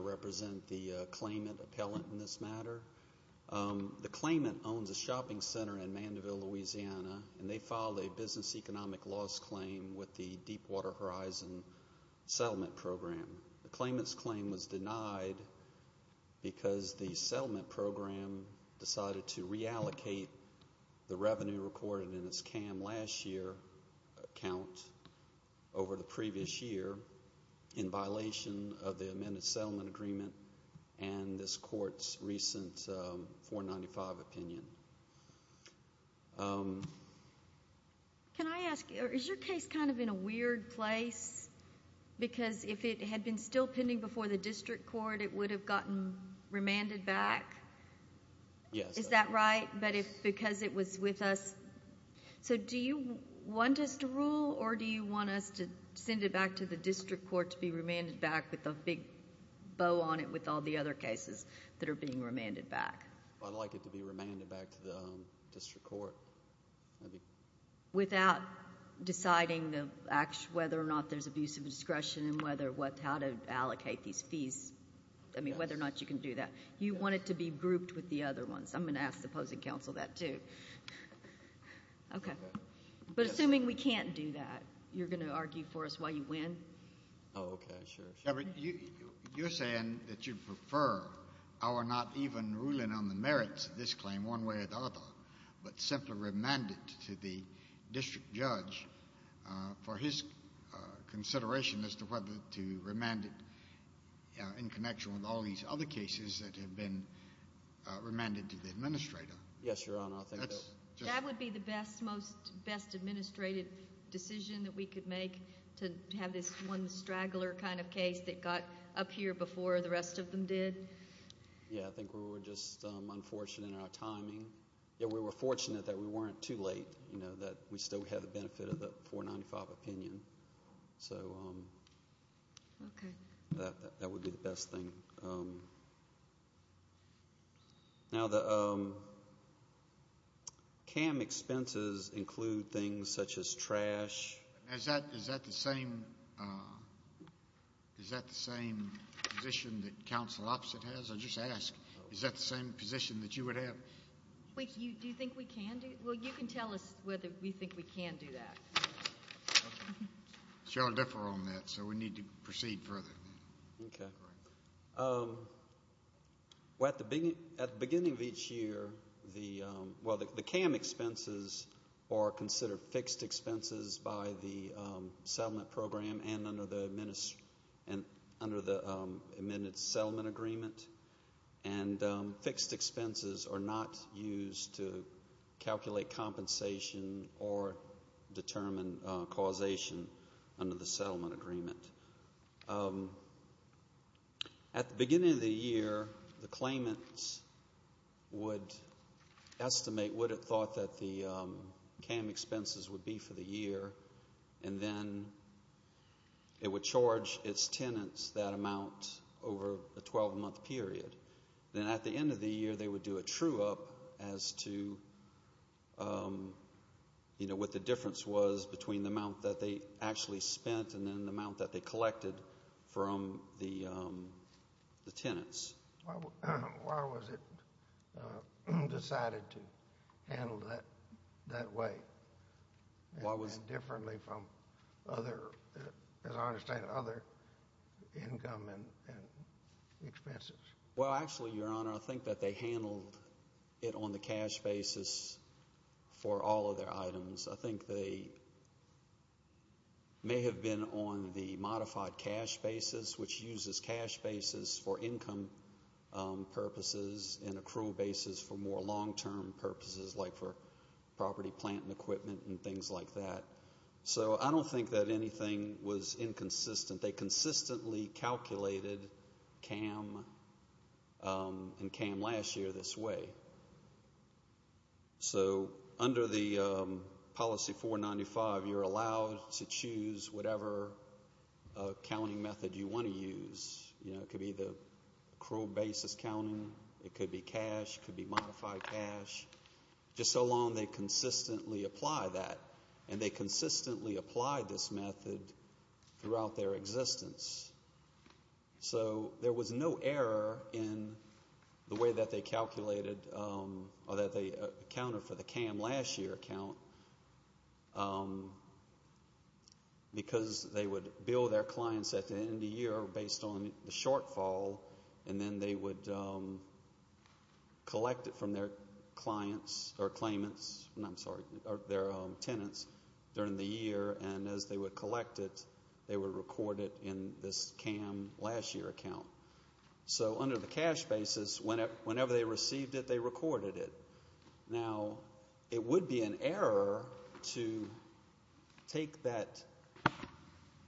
represent the claimant appellant in this matter. The claimant owns a shopping center in Mandeville, Louisiana, and they filed a business economic loss claim with the Deep program decided to reallocate the revenue recorded in its CAM last year account over the previous year in violation of the amended settlement agreement and this court's recent 495 opinion. Can I ask, is your case kind of in a weird place? Because if it had been still pending before the district court, it would have gotten remanded back? Yes. Is that right? But if because it was with us, so do you want us to rule or do you want us to send it back to the district court to be remanded back with a big bow on it with all the other cases that are being remanded back? I'd like it to be remanded back to the district court. Without deciding whether or not there's abuse of discretion and how to allocate these fees, I mean, whether or not you can do that. You want it to be grouped with the other ones. I'm going to ask the opposing counsel that, too. Okay. But assuming we can't do that, you're going to argue for us why you win? Oh, okay, sure. You're saying that you prefer our not even ruling on the merits of this claim one way or the other, but simply remand it to the district judge for his consideration as to whether to remand it in connection with all these other cases that have been remanded to the administrator? Yes, Your Honor. That would be the best, most best administrative decision that we could make to have this one straggler kind of case that got up here before the rest of them did. Yeah, I think we were just unfortunate in our timing. We were fortunate that we weren't too late, that we still had the benefit of the 495 opinion. So that would be the best thing. Now the CAM expenses include things such as trash. Is that the same position that counsel opposite has? I'll just ask. Is that the same position that you would have? Do you think we can do it? Well, you can tell us whether we think we can do that. Cheryl, differ on that, so we need to proceed further. Okay. Well, at the beginning of each year, the CAM expenses are considered fixed expenses by the settlement program and under the amended settlement agreement. And fixed expenses are not used to calculate compensation or determine causation under the settlement agreement. At the beginning of the year, the claimants would estimate what it thought that the CAM expenses would be for the year, and then it would charge its tenants that amount over a 12-month period. Then at the end of the year, they would do a true-up as to what the difference was between the amount that they actually spent and then the amount that they collected from the tenants. Why was it decided to handle it that way and differently from, as I understand it, other income and expenses? Well, actually, Your Honor, I think that they handled it on the cash basis for all of their items. I think they may have been on the modified cash basis, which uses cash basis for income purposes and accrual basis for more long-term purposes like for property, plant, and equipment and things like that. So I don't think that anything was inconsistent. They consistently calculated CAM and CAM last year this way. So under the policy 495, you're allowed to choose whatever counting method you want to use. It could be the accrual basis counting. It could be cash. It could be modified cash. Just so long they consistently apply that, and they consistently apply this method throughout their existence. So there was no error in the way that they calculated or that they accounted for the CAM last year account because they would bill their clients at the end of the year based on the shortfall, and then they would collect it from their clients or claimants. I'm sorry, their tenants during the year, and as they would collect it, they would record it in this CAM last year account. So under the cash basis, whenever they received it, they recorded it. Now, it would be an error to take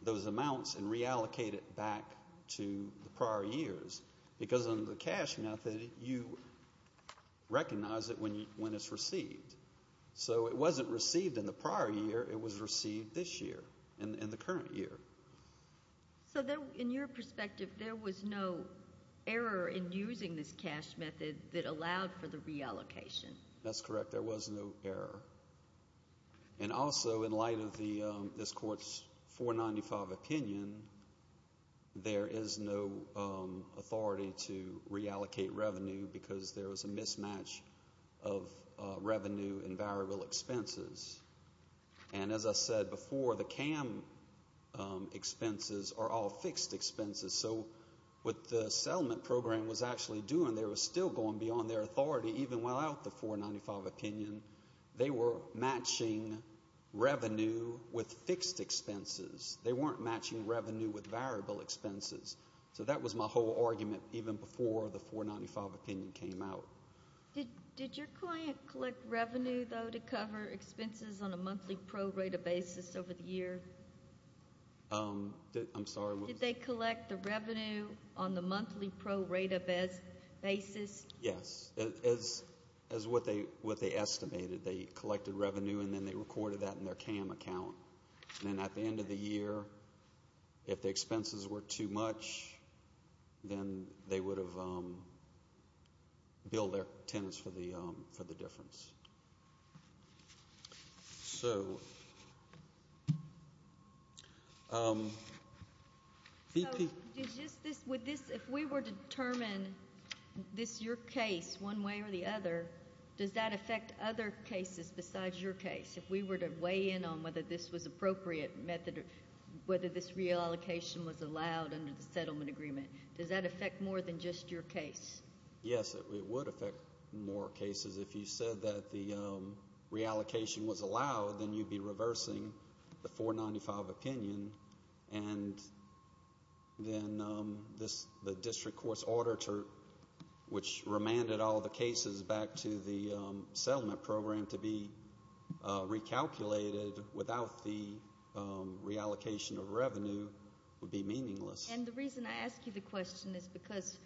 those amounts and reallocate it back to the prior years because under the cash method, you recognize it when it's received. So it wasn't received in the prior year. It was received this year, in the current year. So in your perspective, there was no error in using this cash method that allowed for the reallocation. That's correct. There was no error. And also, in light of this Court's 495 opinion, there is no authority to reallocate revenue because there was a mismatch of revenue and variable expenses. And as I said before, the CAM expenses are all fixed expenses. So what the settlement program was actually doing, they were still going beyond their authority. Even without the 495 opinion, they were matching revenue with fixed expenses. They weren't matching revenue with variable expenses. So that was my whole argument even before the 495 opinion came out. Did your client collect revenue, though, to cover expenses on a monthly pro rata basis over the year? I'm sorry? Did they collect the revenue on the monthly pro rata basis? Yes. As what they estimated, they collected revenue and then they recorded that in their CAM account. And then at the end of the year, if the expenses were too much, then they would have billed their tenants for the difference. If we were to determine this is your case one way or the other, does that affect other cases besides your case? If we were to weigh in on whether this was an appropriate method or whether this reallocation was allowed under the settlement agreement, does that affect more than just your case? Yes, it would affect more cases. If you said that the reallocation was allowed, then you'd be reversing the 495 opinion. And then the district court's auditor, which remanded all the cases back to the settlement program, to be recalculated without the reallocation of revenue would be meaningless. And the reason I ask you the question is because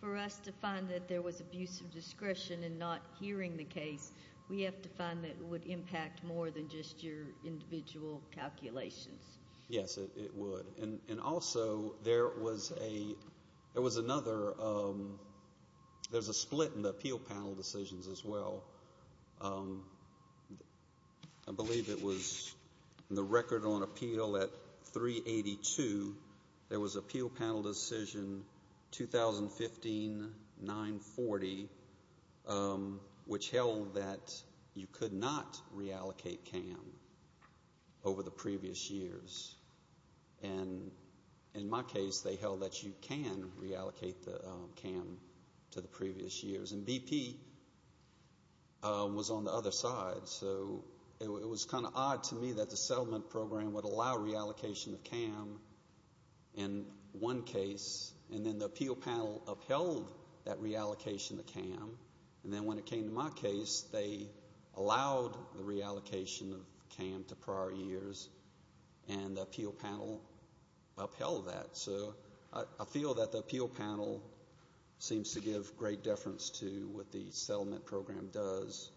for us to find that there was abuse of discretion in not hearing the case, we have to find that it would impact more than just your individual calculations. Yes, it would. And also, there was another split in the appeal panel decisions as well. I believe it was in the record on appeal at 382, there was an appeal panel decision, 2015-940, which held that you could not reallocate CAM over the previous years. And in my case, they held that you can reallocate the CAM to the previous years. And BP was on the other side, so it was kind of odd to me that the settlement program would allow reallocation of CAM in one case, and then the appeal panel upheld that reallocation of CAM. And then when it came to my case, they allowed the reallocation of CAM to prior years, and the appeal panel upheld that. So I feel that the appeal panel seems to give great deference to what the settlement program does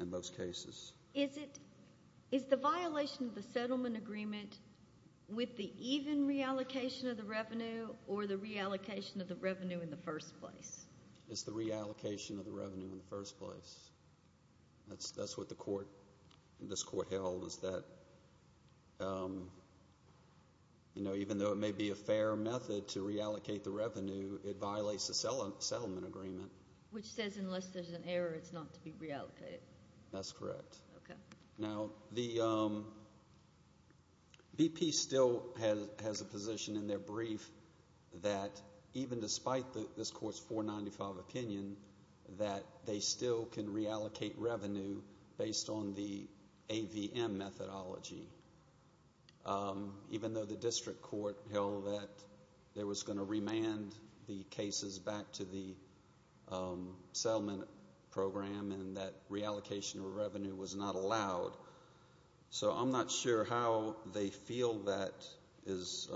in most cases. Is the violation of the settlement agreement with the even reallocation of the revenue or the reallocation of the revenue in the first place? It's the reallocation of the revenue in the first place. That's what this court held, is that even though it may be a fair method to reallocate the revenue, it violates the settlement agreement. Which says unless there's an error, it's not to be reallocated. That's correct. Okay. Now, BP still has a position in their brief that even despite this court's 495 opinion that they still can reallocate revenue based on the AVM methodology, even though the district court held that they were going to remand the cases back to the settlement program and that reallocation of revenue was not allowed. So I'm not sure how they feel that is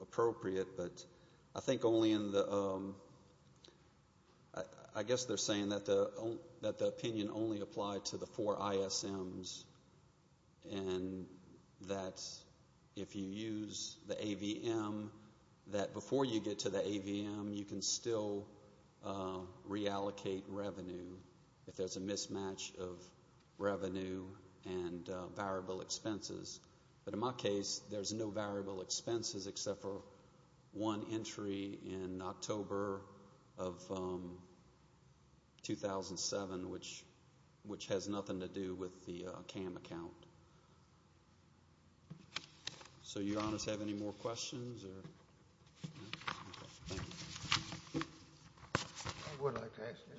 appropriate, but I think only in the... I guess they're saying that the opinion only applied to the four ISMs and that if you use the AVM, that before you get to the AVM, you can still reallocate revenue if there's a mismatch of revenue and variable expenses. But in my case, there's no variable expenses except for one entry in October of 2007, which has nothing to do with the CAM account. So, Your Honors, do you have any more questions? I would like to ask you,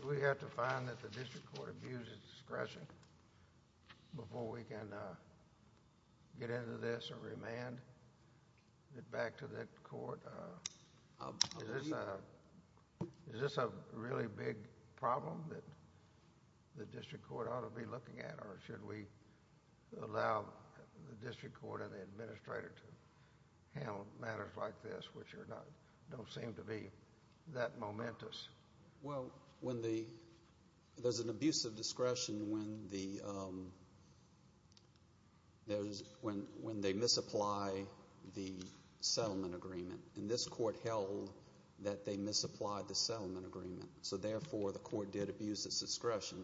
do we have to find that the district court abused its discretion before we can get into this or remand it back to the court? Is this a really big problem that the district court ought to be looking at or should we allow the district court and the administrator to handle matters like this, which don't seem to be that momentous? Well, there's an abuse of discretion when they misapply the settlement agreement, and this court held that they misapplied the settlement agreement, so therefore the court did abuse its discretion.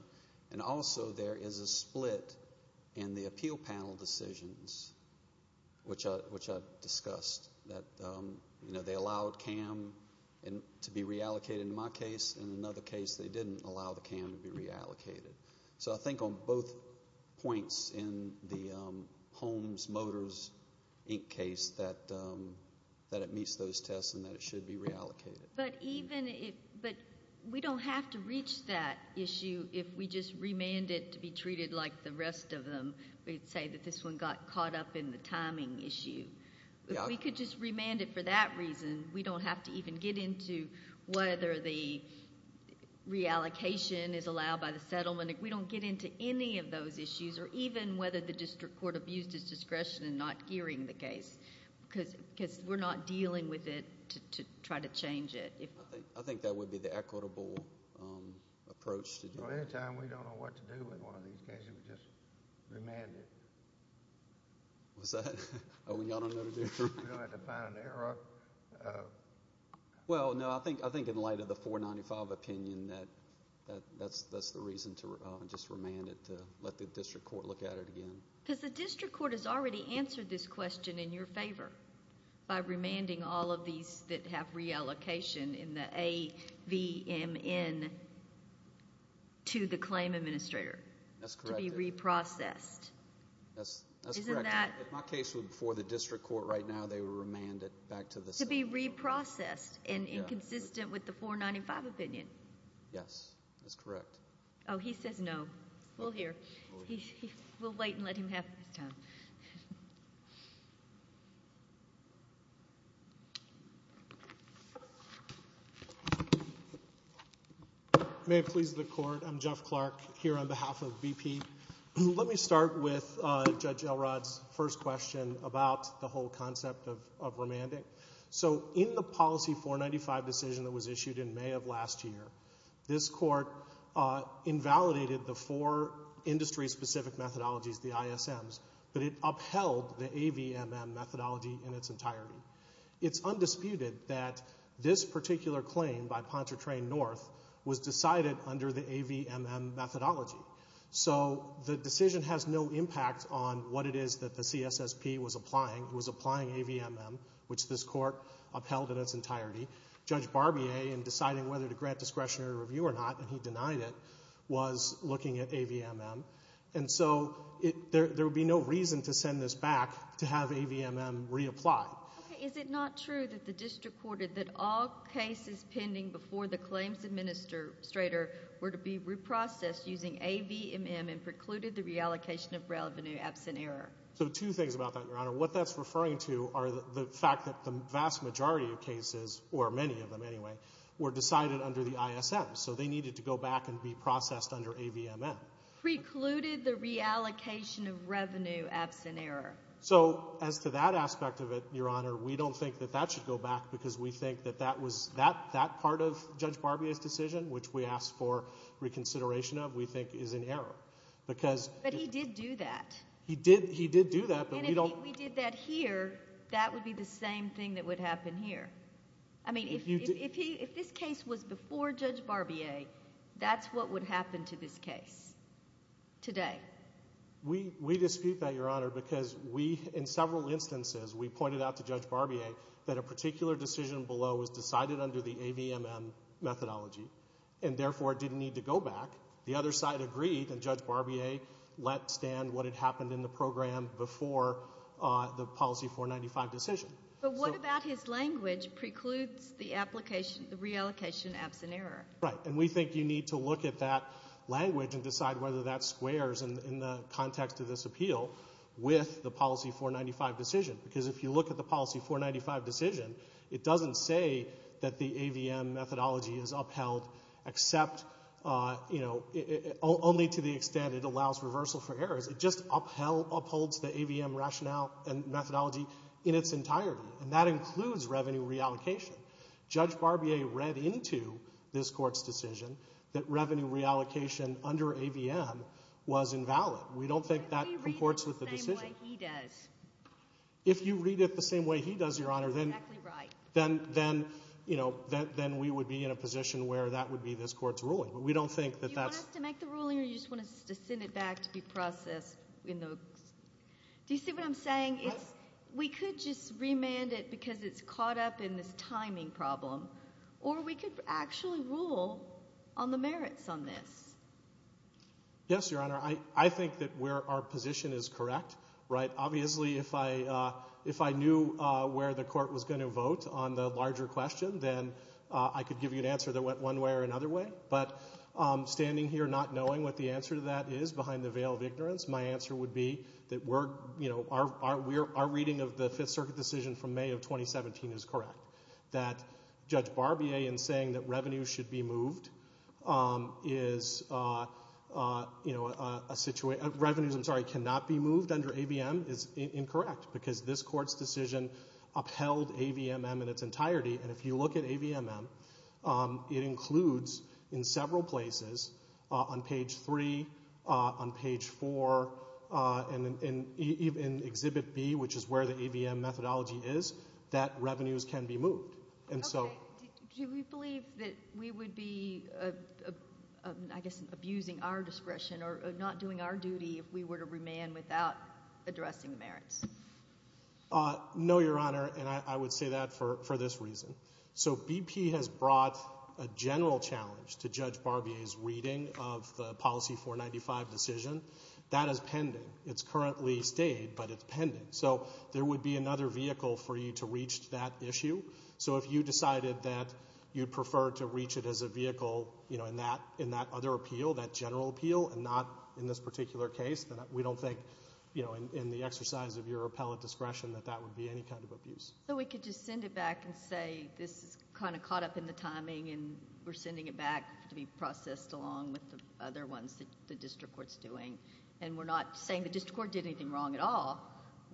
And also there is a split in the appeal panel decisions, which I've discussed, that they allowed CAM to be reallocated in my case. In another case, they didn't allow the CAM to be reallocated. So I think on both points in the Holmes Motors Inc. case that it meets those tests and that it should be reallocated. But we don't have to reach that issue if we just remand it to be treated like the rest of them. We'd say that this one got caught up in the timing issue. We could just remand it for that reason. We don't have to even get into whether the reallocation is allowed by the settlement. We don't get into any of those issues or even whether the district court abused its discretion in not gearing the case because we're not dealing with it to try to change it. I think that would be the equitable approach. Well, anytime we don't know what to do with one of these cases, we just remand it. What was that? Oh, we don't know what to do? We don't have to find an error. Well, no, I think in light of the 495 opinion that that's the reason to just remand it, to let the district court look at it again. Because the district court has already answered this question in your favor by remanding all of these that have reallocation in the AVMN to the claim administrator to be reprocessed. That's correct. If my case was before the district court right now, they would remand it back to the settlement. To be reprocessed and inconsistent with the 495 opinion. Yes, that's correct. Oh, he says no. We'll hear. We'll wait and let him have his time. May it please the court. I'm Jeff Clark here on behalf of BP. Let me start with Judge Elrod's first question about the whole concept of remanding. In the policy 495 decision that was issued in May of last year, this court invalidated the four industry-specific methodologies, the ISMs, but it upheld the AVMM methodology in its entirety. It's undisputed that this particular claim by Pontchartrain North was decided under the AVMM methodology. So the decision has no impact on what it is that the CSSP was applying. It was applying AVMM, which this court upheld in its entirety. Judge Barbier, in deciding whether to grant discretionary review or not, and he denied it, was looking at AVMM. And so there would be no reason to send this back to have AVMM reapplied. Is it not true that the district court that all cases pending before the claims administrator were to be reprocessed using AVMM and precluded the reallocation of revenue absent error? So two things about that, Your Honor. What that's referring to are the fact that the vast majority of cases, or many of them anyway, were decided under the ISMs. So they needed to go back and be processed under AVMM. Precluded the reallocation of revenue absent error. So as to that aspect of it, Your Honor, we don't think that that should go back because we think that that was that part of Judge Barbier's decision, which we asked for reconsideration of, we think is in error. But he did do that. He did do that, but we don't— And if he did that here, that would be the same thing that would happen here. I mean, if this case was before Judge Barbier, that's what would happen to this case today. We dispute that, Your Honor, because we, in several instances, we pointed out to Judge Barbier that a particular decision below was decided under the AVMM methodology and therefore didn't need to go back. The other side agreed, and Judge Barbier let stand what had happened in the program before the Policy 495 decision. But what about his language precludes the reallocation absent error? Right, and we think you need to look at that language and decide whether that squares in the context of this appeal with the Policy 495 decision because if you look at the Policy 495 decision, it doesn't say that the AVMM methodology is upheld except, you know, only to the extent it allows reversal for errors. It just upholds the AVMM rationale and methodology in its entirety, and that includes revenue reallocation. Judge Barbier read into this Court's decision that revenue reallocation under AVMM was invalid. We don't think that comports with the decision. If we read it the same way he does— then, you know, we would be in a position where that would be this Court's ruling. But we don't think that that's— Do you want us to make the ruling or do you just want us to send it back to be processed? Do you see what I'm saying? We could just remand it because it's caught up in this timing problem, or we could actually rule on the merits on this. Yes, Your Honor, I think that our position is correct. Right? Obviously, if I knew where the Court was going to vote on the larger question, then I could give you an answer that went one way or another way. But standing here not knowing what the answer to that is behind the veil of ignorance, my answer would be that our reading of the Fifth Circuit decision from May of 2017 is correct, that Judge Barbier, in saying that revenues should be moved, is, you know, a situation— Revenues, I'm sorry, cannot be moved under AVM is incorrect because this Court's decision upheld AVMM in its entirety. And if you look at AVMM, it includes in several places, on page 3, on page 4, and even in Exhibit B, which is where the AVM methodology is, that revenues can be moved. Okay. Do we believe that we would be, I guess, abusing our discretion or not doing our duty if we were to remand without addressing the merits? No, Your Honor, and I would say that for this reason. So BP has brought a general challenge to Judge Barbier's reading of the Policy 495 decision. That is pending. It's currently stayed, but it's pending. So there would be another vehicle for you to reach that issue. So if you decided that you'd prefer to reach it as a vehicle, you know, in that other appeal, that general appeal, and not in this particular case, then we don't think, you know, in the exercise of your appellate discretion, that that would be any kind of abuse. So we could just send it back and say, this is kind of caught up in the timing, and we're sending it back to be processed along with the other ones that the District Court's doing. And we're not saying the District Court did anything wrong at all.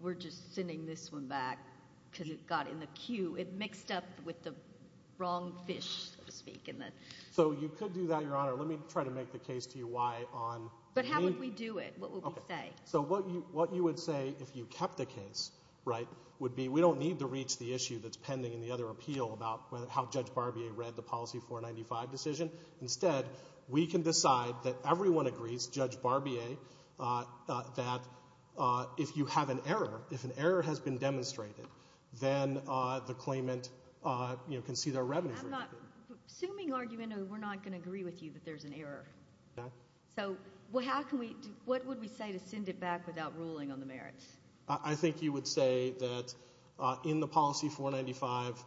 We're just sending this one back because it got in the queue. It mixed up with the wrong fish, so to speak. So you could do that, Your Honor. Let me try to make the case to you why on... But how would we do it? What would we say? So what you would say if you kept the case, right, would be we don't need to reach the issue that's pending in the other appeal about how Judge Barbier read the Policy 495 decision. Instead, we can decide that everyone agrees, Judge Barbier, that if you have an error, if an error has been demonstrated, then the claimant can see their revenues... I'm not... Assuming argument, we're not going to agree with you that there's an error. So how can we... What would we say to send it back without ruling on the merits? I think you would say that in the Policy 495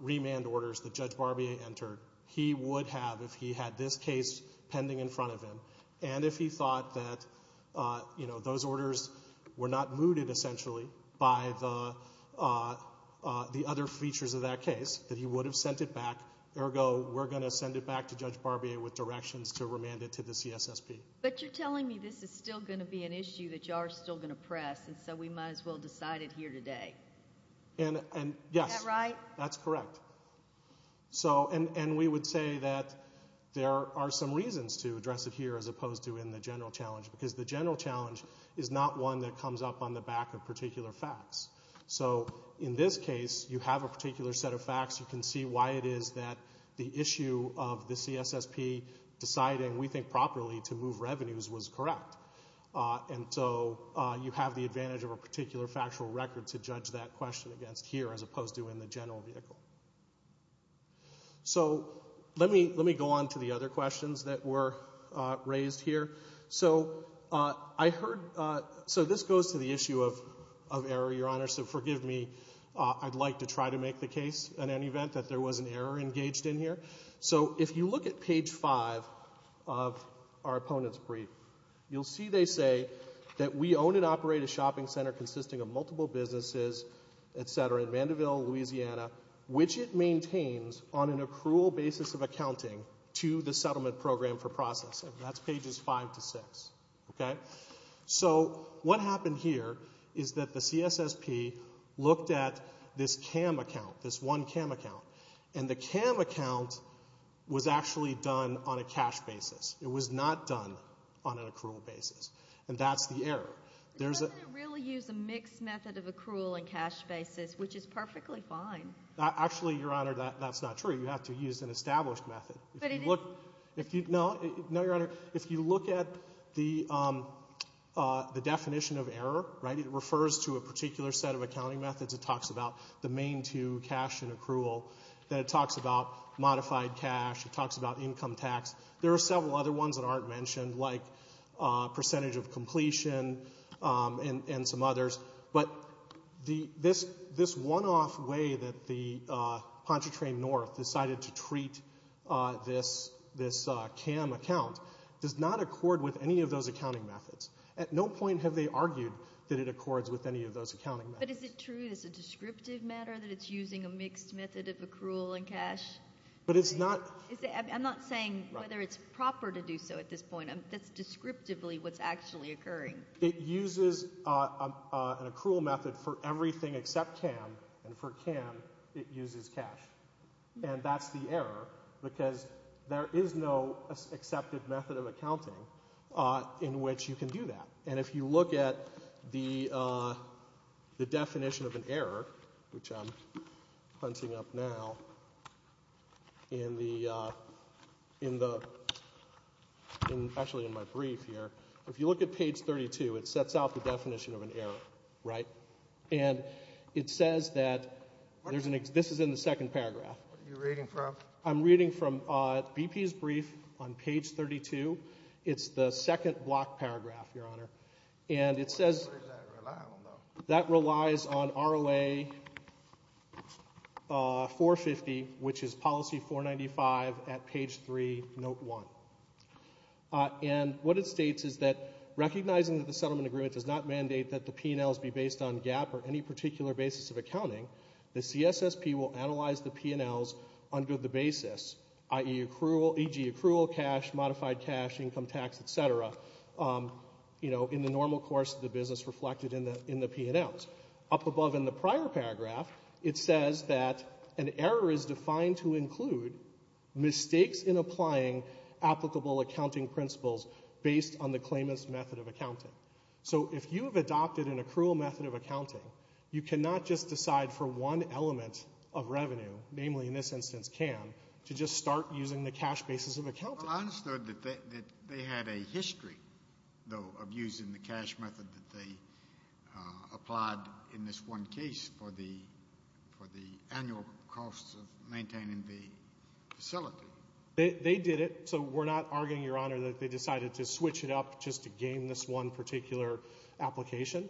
remand orders that Judge Barbier entered, he would have, if he had this case pending in front of him, and if he thought that those orders were not mooted, essentially, by the other features of that case, that he would have sent it back. Ergo, we're going to send it back to Judge Barbier with directions to remand it to the CSSP. But you're telling me this is still going to be an issue that you are still going to press, and so we might as well decide it here today. And, yes. Is that right? That's correct. And we would say that there are some reasons to address it here as opposed to in the general challenge, because the general challenge is not one that comes up on the back of particular facts. So in this case, you have a particular set of facts. You can see why it is that the issue of the CSSP deciding, we think properly, to move revenues was correct. And so you have the advantage of a particular factual record to judge that question against here as opposed to in the general vehicle. So let me go on to the other questions that were raised here. So I heard... So this goes to the issue of error, Your Honor. So forgive me. I'd like to try to make the case in any event that there was an error engaged in here. So if you look at page 5 of our opponents' brief, you'll see they say that we own and operate a shopping center consisting of multiple businesses, etc., in Vandeville, Louisiana, which it maintains on an accrual basis of accounting to the settlement program for processing. That's pages 5 to 6, okay? So what happened here is that the CSSP looked at this CAM account, this one CAM account, and the CAM account was actually done on a cash basis. It was not done on an accrual basis. And that's the error. It doesn't really use a mixed method of accrual and cash basis, which is perfectly fine. Actually, Your Honor, that's not true. You have to use an established method. No, Your Honor, if you look at the definition of error, right, it refers to a particular set of accounting methods. It talks about the main two, cash and accrual. Then it talks about modified cash. It talks about income tax. There are several other ones that aren't mentioned, like percentage of completion and some others. But this one-off way that the Pontchartrain North decided to treat this CAM account does not accord with any of those accounting methods. At no point have they argued that it accords with any of those accounting methods. But is it true that it's a descriptive matter, that it's using a mixed method of accrual and cash? But it's not... I'm not saying whether it's proper to do so at this point. That's descriptively what's actually occurring. It uses an accrual method for everything except CAM, and for CAM, it uses cash. And that's the error, because there is no accepted method of accounting in which you can do that. And if you look at the definition of an error, which I'm hunting up now in the... actually in my brief here, if you look at page 32, it sets out the definition of an error, right? And it says that... This is in the second paragraph. What are you reading from? I'm reading from BP's brief on page 32. It's the second block paragraph, Your Honor. And it says... What does that rely on, though? That relies on ROA 450, which is policy 495 at page 3, note 1. And what it states is that recognizing that the settlement agreement does not mandate that the P&Ls be based on GAAP or any particular basis of accounting, the CSSP will analyze the P&Ls under the basis, i.e. accrual, EG accrual, cash, modified cash, income tax, et cetera, you know, in the normal course of the business reflected in the P&Ls. Up above in the prior paragraph, it says that an error is defined to include mistakes in applying applicable accounting principles based on the claimant's method of accounting. So if you have adopted an accrual method of accounting, you cannot just decide for one element of revenue, namely in this instance CAN, to just start using the cash basis of accounting. Well, I understood that they had a history, though, of using the cash method that they applied in this one case for the annual costs of maintaining the facility. They did it. So we're not arguing, Your Honor, that they decided to switch it up just to gain this one particular application.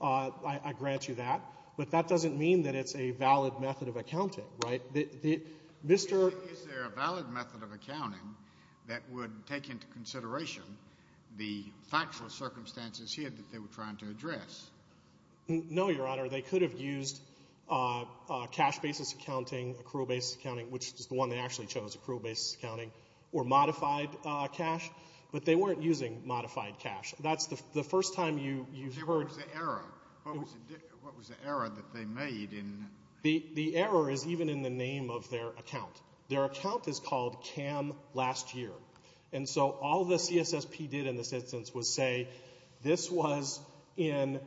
I grant you that. But that doesn't mean that it's a valid method of accounting. Right? Is there a valid method of accounting that would take into consideration the factual circumstances here that they were trying to address? No, Your Honor. They could have used cash basis accounting, accrual basis accounting, which is the one they actually chose, accrual basis accounting, or modified cash. But they weren't using modified cash. That's the first time you've heard... What was the error? What was the error that they made in... The error is even in the name of their account. Their account is called CAN Last Year. And so all the CSSP did in this instance was say, this was in...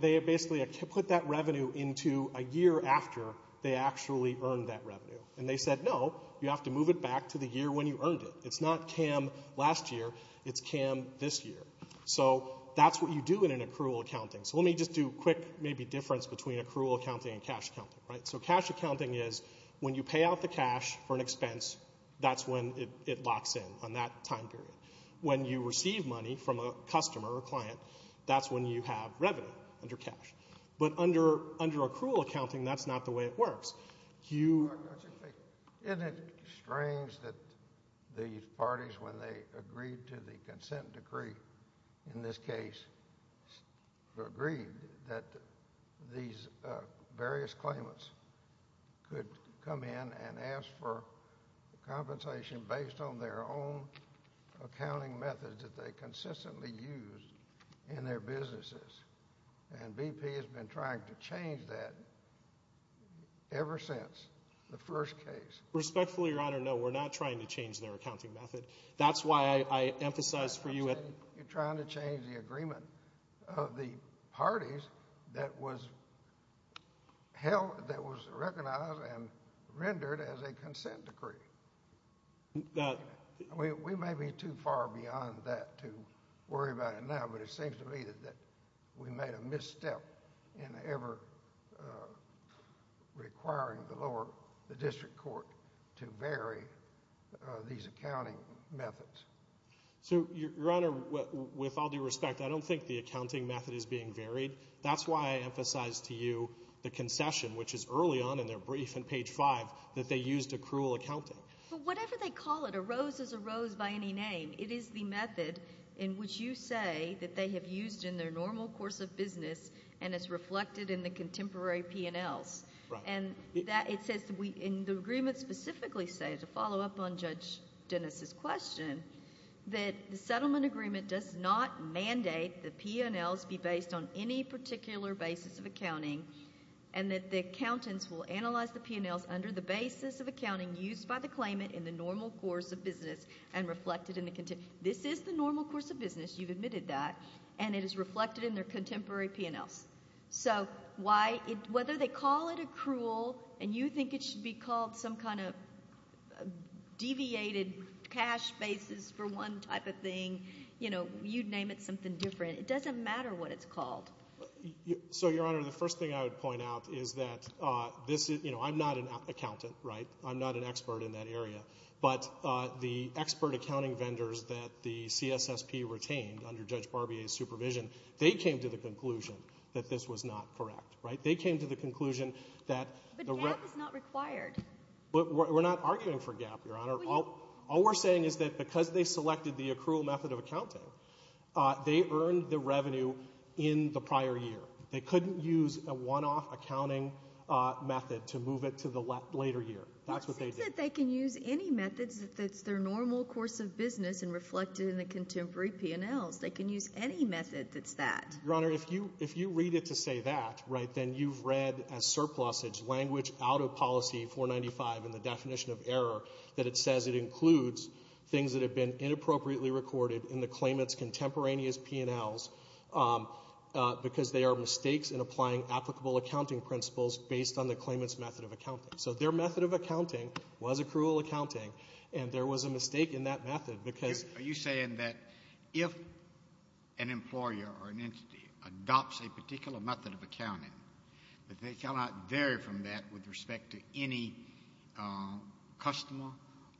They basically put that revenue into a year after they actually earned that revenue. And they said, no, you have to move it back to the year when you earned it. It's not CAN Last Year, it's CAN This Year. So that's what you do in an accrual accounting. So let me just do a quick, maybe, difference between accrual accounting and cash accounting. So cash accounting is when you pay out the cash for an expense, that's when it locks in on that time period. When you receive money from a customer or client, that's when you have revenue under cash. But under accrual accounting, that's not the way it works. Isn't it strange that the parties, when they agreed to the consent decree in this case, agreed that these various claimants could come in and ask for compensation based on their own accounting methods that they consistently use in their businesses? And BP has been trying to change that ever since the first case. Respectfully, Your Honor, no, we're not trying to change their accounting method. That's why I emphasize for you... You're trying to change the agreement of the parties that was held, that was recognized and rendered as a consent decree. We may be too far beyond that to worry about it now, but it seems to me that we made a misstep in ever requiring the District Court to vary these accounting methods. So, Your Honor, with all due respect, I don't think the accounting method is being varied. That's why I emphasize to you the concession, which is early on in their brief in page 5, that they used accrual accounting. But whatever they call it, a rose is a rose by any name. It is the method in which you say that they have used in their normal course of business and it's reflected in the contemporary P&Ls. And it says in the agreement specifically, to follow up on Judge Dennis' question, that the settlement agreement does not mandate the P&Ls be based on any particular basis of accounting and that the accountants will analyze the P&Ls under the basis of accounting used by the claimant in the normal course of business and reflected in the... This is the normal course of business, you've admitted that, and it is reflected in their contemporary P&Ls. So whether they call it accrual and you think it should be called some kind of deviated cash basis for one type of thing, you'd name it something different. It doesn't matter what it's called. So, Your Honor, the first thing I would point out is that... You know, I'm not an accountant, right? I'm not an expert in that area. But the expert accounting vendors that the CSSP retained under Judge Barbier's supervision, they came to the conclusion that this was not correct, right? They came to the conclusion that... But GAAP is not required. We're not arguing for GAAP, Your Honor. All we're saying is that because they selected the accrual method of accounting, they earned the revenue in the prior year. They couldn't use a one-off accounting method to move it to the later year. That's what they did. It's not that they can use any methods that's their normal course of business and reflected in the contemporary P&Ls. They can use any method that's that. Your Honor, if you read it to say that, right, then you've read as surplusage, language out of Policy 495 in the definition of error, that it says it includes things that have been inappropriately recorded in the claimant's contemporaneous P&Ls because they are mistakes in applying applicable accounting principles based on the claimant's method of accounting. So their method of accounting was accrual accounting, and there was a mistake in that method because... Are you saying that if an employer or an entity adopts a particular method of accounting, that they cannot vary from that with respect to any customer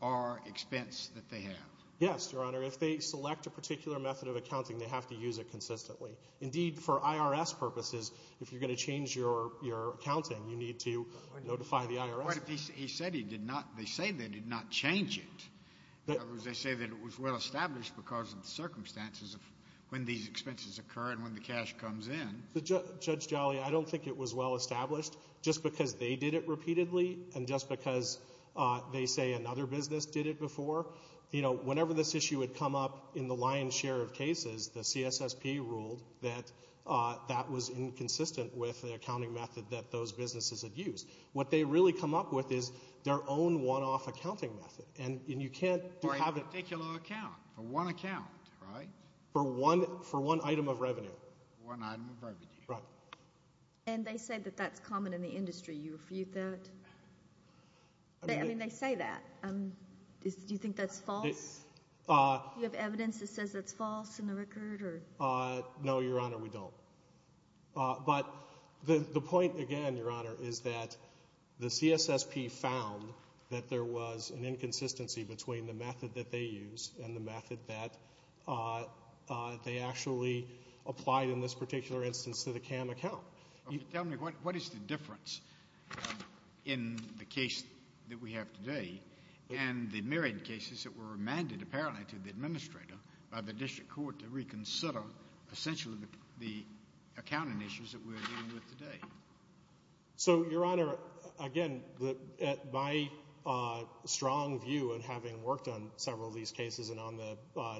or expense that they have? Yes, Your Honor. If they select a particular method of accounting, they have to use it consistently. Indeed, for IRS purposes, if you're going to change your accounting, you need to notify the IRS. But he said he did not... They say they did not change it. In other words, they say that it was well-established because of the circumstances of when these expenses occur and when the cash comes in. Judge Jolly, I don't think it was well-established just because they did it repeatedly and just because they say another business did it before. You know, whenever this issue would come up in the lion's share of cases, the CSSP ruled that that was inconsistent with the accounting method that those businesses had used. What they really come up with is their own one-off accounting method. And you can't... For a particular account, for one account, right? For one item of revenue. For one item of revenue. Right. And they say that that's common in the industry. Do you refute that? I mean, they say that. Do you think that's false? Do you have evidence that says that's false in the record? No, Your Honor, we don't. But the point, again, Your Honor, is that the CSSP found that there was an inconsistency between the method that they used and the method that they actually applied in this particular instance to the CAM account. Tell me, what is the difference in the case that we have today and the myriad of cases that were remanded, apparently, to the administrator by the district court to reconsider, essentially, the accounting issues that we're dealing with today? So, Your Honor, again, my strong view, and having worked on several of these cases and on the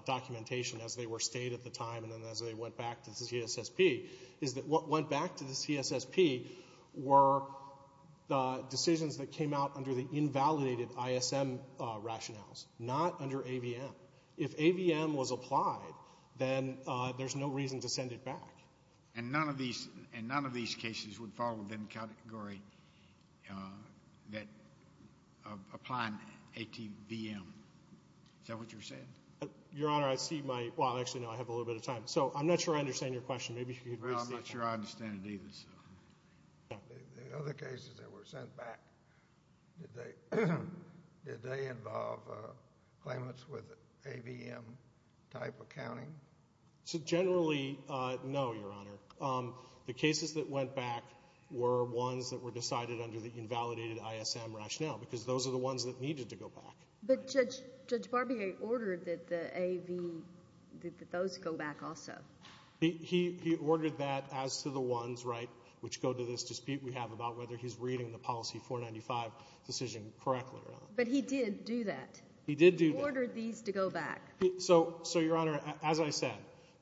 documentation as they were state at the time and then as they went back to the CSSP, is that what went back to the CSSP were the decisions that came out under the invalidated ISM rationales, not under AVM. If AVM was applied, then there's no reason to send it back. And none of these cases would fall within the category of applying ATVM. Is that what you're saying? Your Honor, I see my... Well, actually, no, I have a little bit of time. So I'm not sure I understand your question. Well, I'm not sure I understand it either. The other cases that were sent back, did they involve claimants with AVM-type accounting? Generally, no, Your Honor. The cases that went back were ones that were decided under the invalidated ISM rationale because those are the ones that needed to go back. But Judge Barbier ordered that those go back also. He ordered that as to the ones, right, which go to this dispute we have about whether he's reading the Policy 495 decision correctly. But he did do that. He did do that. He ordered these to go back. So, Your Honor, as I said,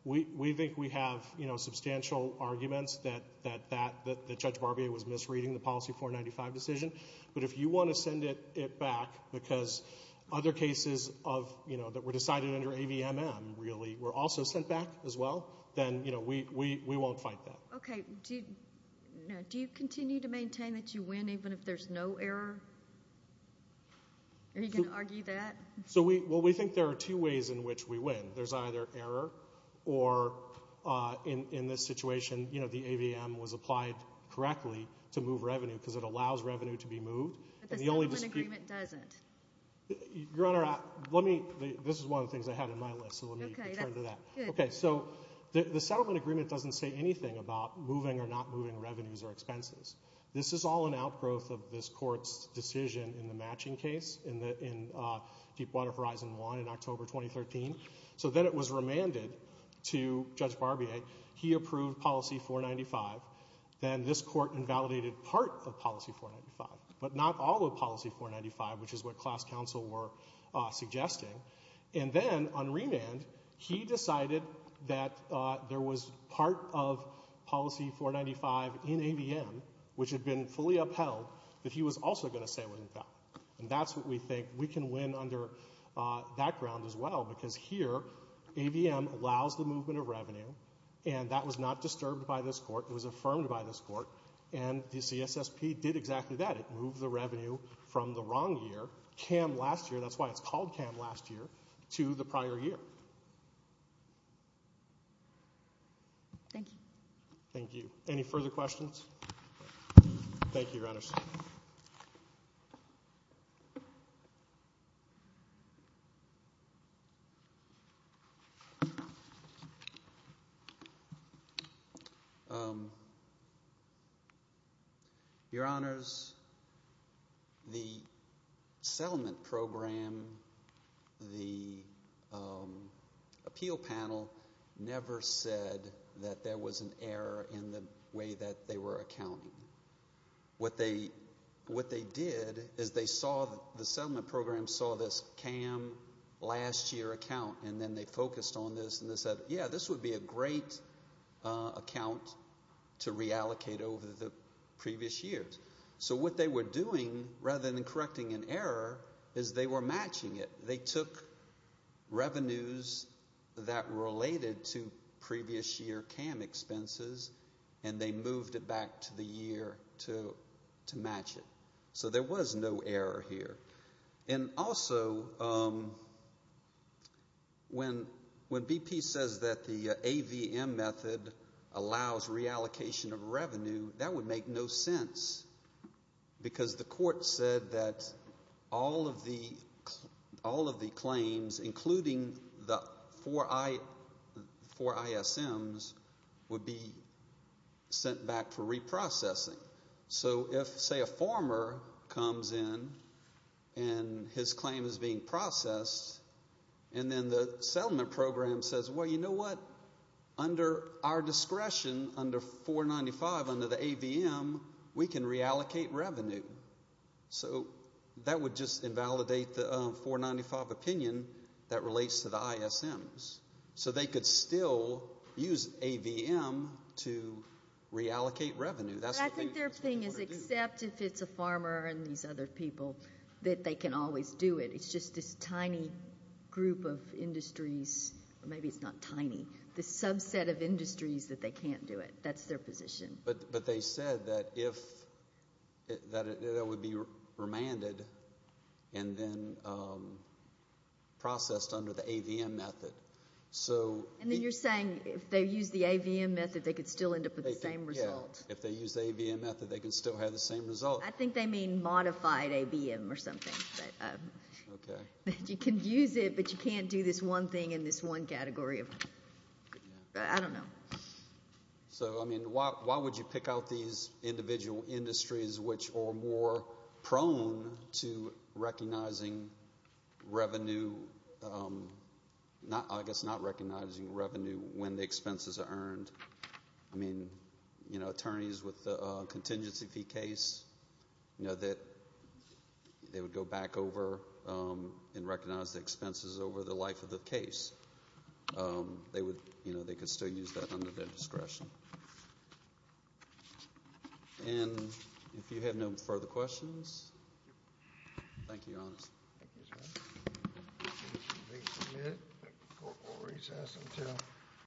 we think we have substantial arguments that Judge Barbier was misreading the Policy 495 decision. But if you want to send it back because other cases that were decided under AVMM really were also sent back as well, then we won't fight that. Okay. Now, do you continue to maintain that you win even if there's no error? Are you going to argue that? Well, we think there are two ways in which we win. There's either error or, in this situation, the AVM was applied correctly to move revenue because it allows revenue to be moved. But the settlement agreement doesn't. Your Honor, let me... This is one of the things I had on my list, so let me return to that. Okay, so the settlement agreement doesn't say anything about moving or not moving revenues or expenses. This is all an outgrowth of this court's decision in the matching case in Deepwater Horizon 1 in October 2013. So then it was remanded to Judge Barbier. He approved Policy 495. Then this court invalidated part of Policy 495, but not all of Policy 495, which is what class counsel were suggesting. And then, on remand, he decided that there was part of Policy 495 in AVM, which had been fully upheld, that he was also going to say what he felt. And that's what we think we can win under that ground as well, because here, AVM allows the movement of revenue, and that was not disturbed by this court. It was affirmed by this court, and the CSSP did exactly that. It moved the revenue from the wrong year, CAM last year, that's why it's called CAM last year, to the prior year. Thank you. Thank you. Any further questions? Thank you, Your Honors. Your Honors, the settlement program, the appeal panel, never said that there was an error in the way that they were accounting. What they did is they saw, the settlement program saw this CAM last year account, and then they focused on this, and they said, yeah, this would be a great account to reallocate over the previous years. So what they were doing, rather than correcting an error, is they were matching it. They took revenues that related to previous year CAM expenses, and they moved it back to the year to match it. So there was no error here. And also, when BP says that the AVM method allows reallocation of revenue, that would make no sense, because the court said that all of the claims, including the four ISMs, would be sent back for reprocessing. So if, say, a former comes in, and his claim is being processed, and then the settlement program says, well, you know what, under our discretion, under 495, under the AVM, we can reallocate revenue. So that would just invalidate the 495 opinion that relates to the ISMs. So they could still use AVM to reallocate revenue. I think their thing is, except if it's a farmer and these other people, that they can always do it. It's just this tiny group of industries. Maybe it's not tiny. The subset of industries that they can't do it. That's their position. But they said that if... that it would be remanded and then processed under the AVM method. And then you're saying if they use the AVM method, they could still end up with the same result. If they use the AVM method, they could still have the same result. I think they mean modified AVM or something. You can use it, but you can't do this one thing in this one category of... I don't know. So, I mean, why would you pick out these individual industries which are more prone to recognizing revenue... I guess not recognizing revenue when the expenses are earned? I mean, you know, attorneys with a contingency fee case, you know, that they would go back over and recognize the expenses over the life of the case. They could still use that under their discretion. And if you have no further questions, thank you, Your Honor. Thank you, Your Honor. The case is submitted. Court will recess until...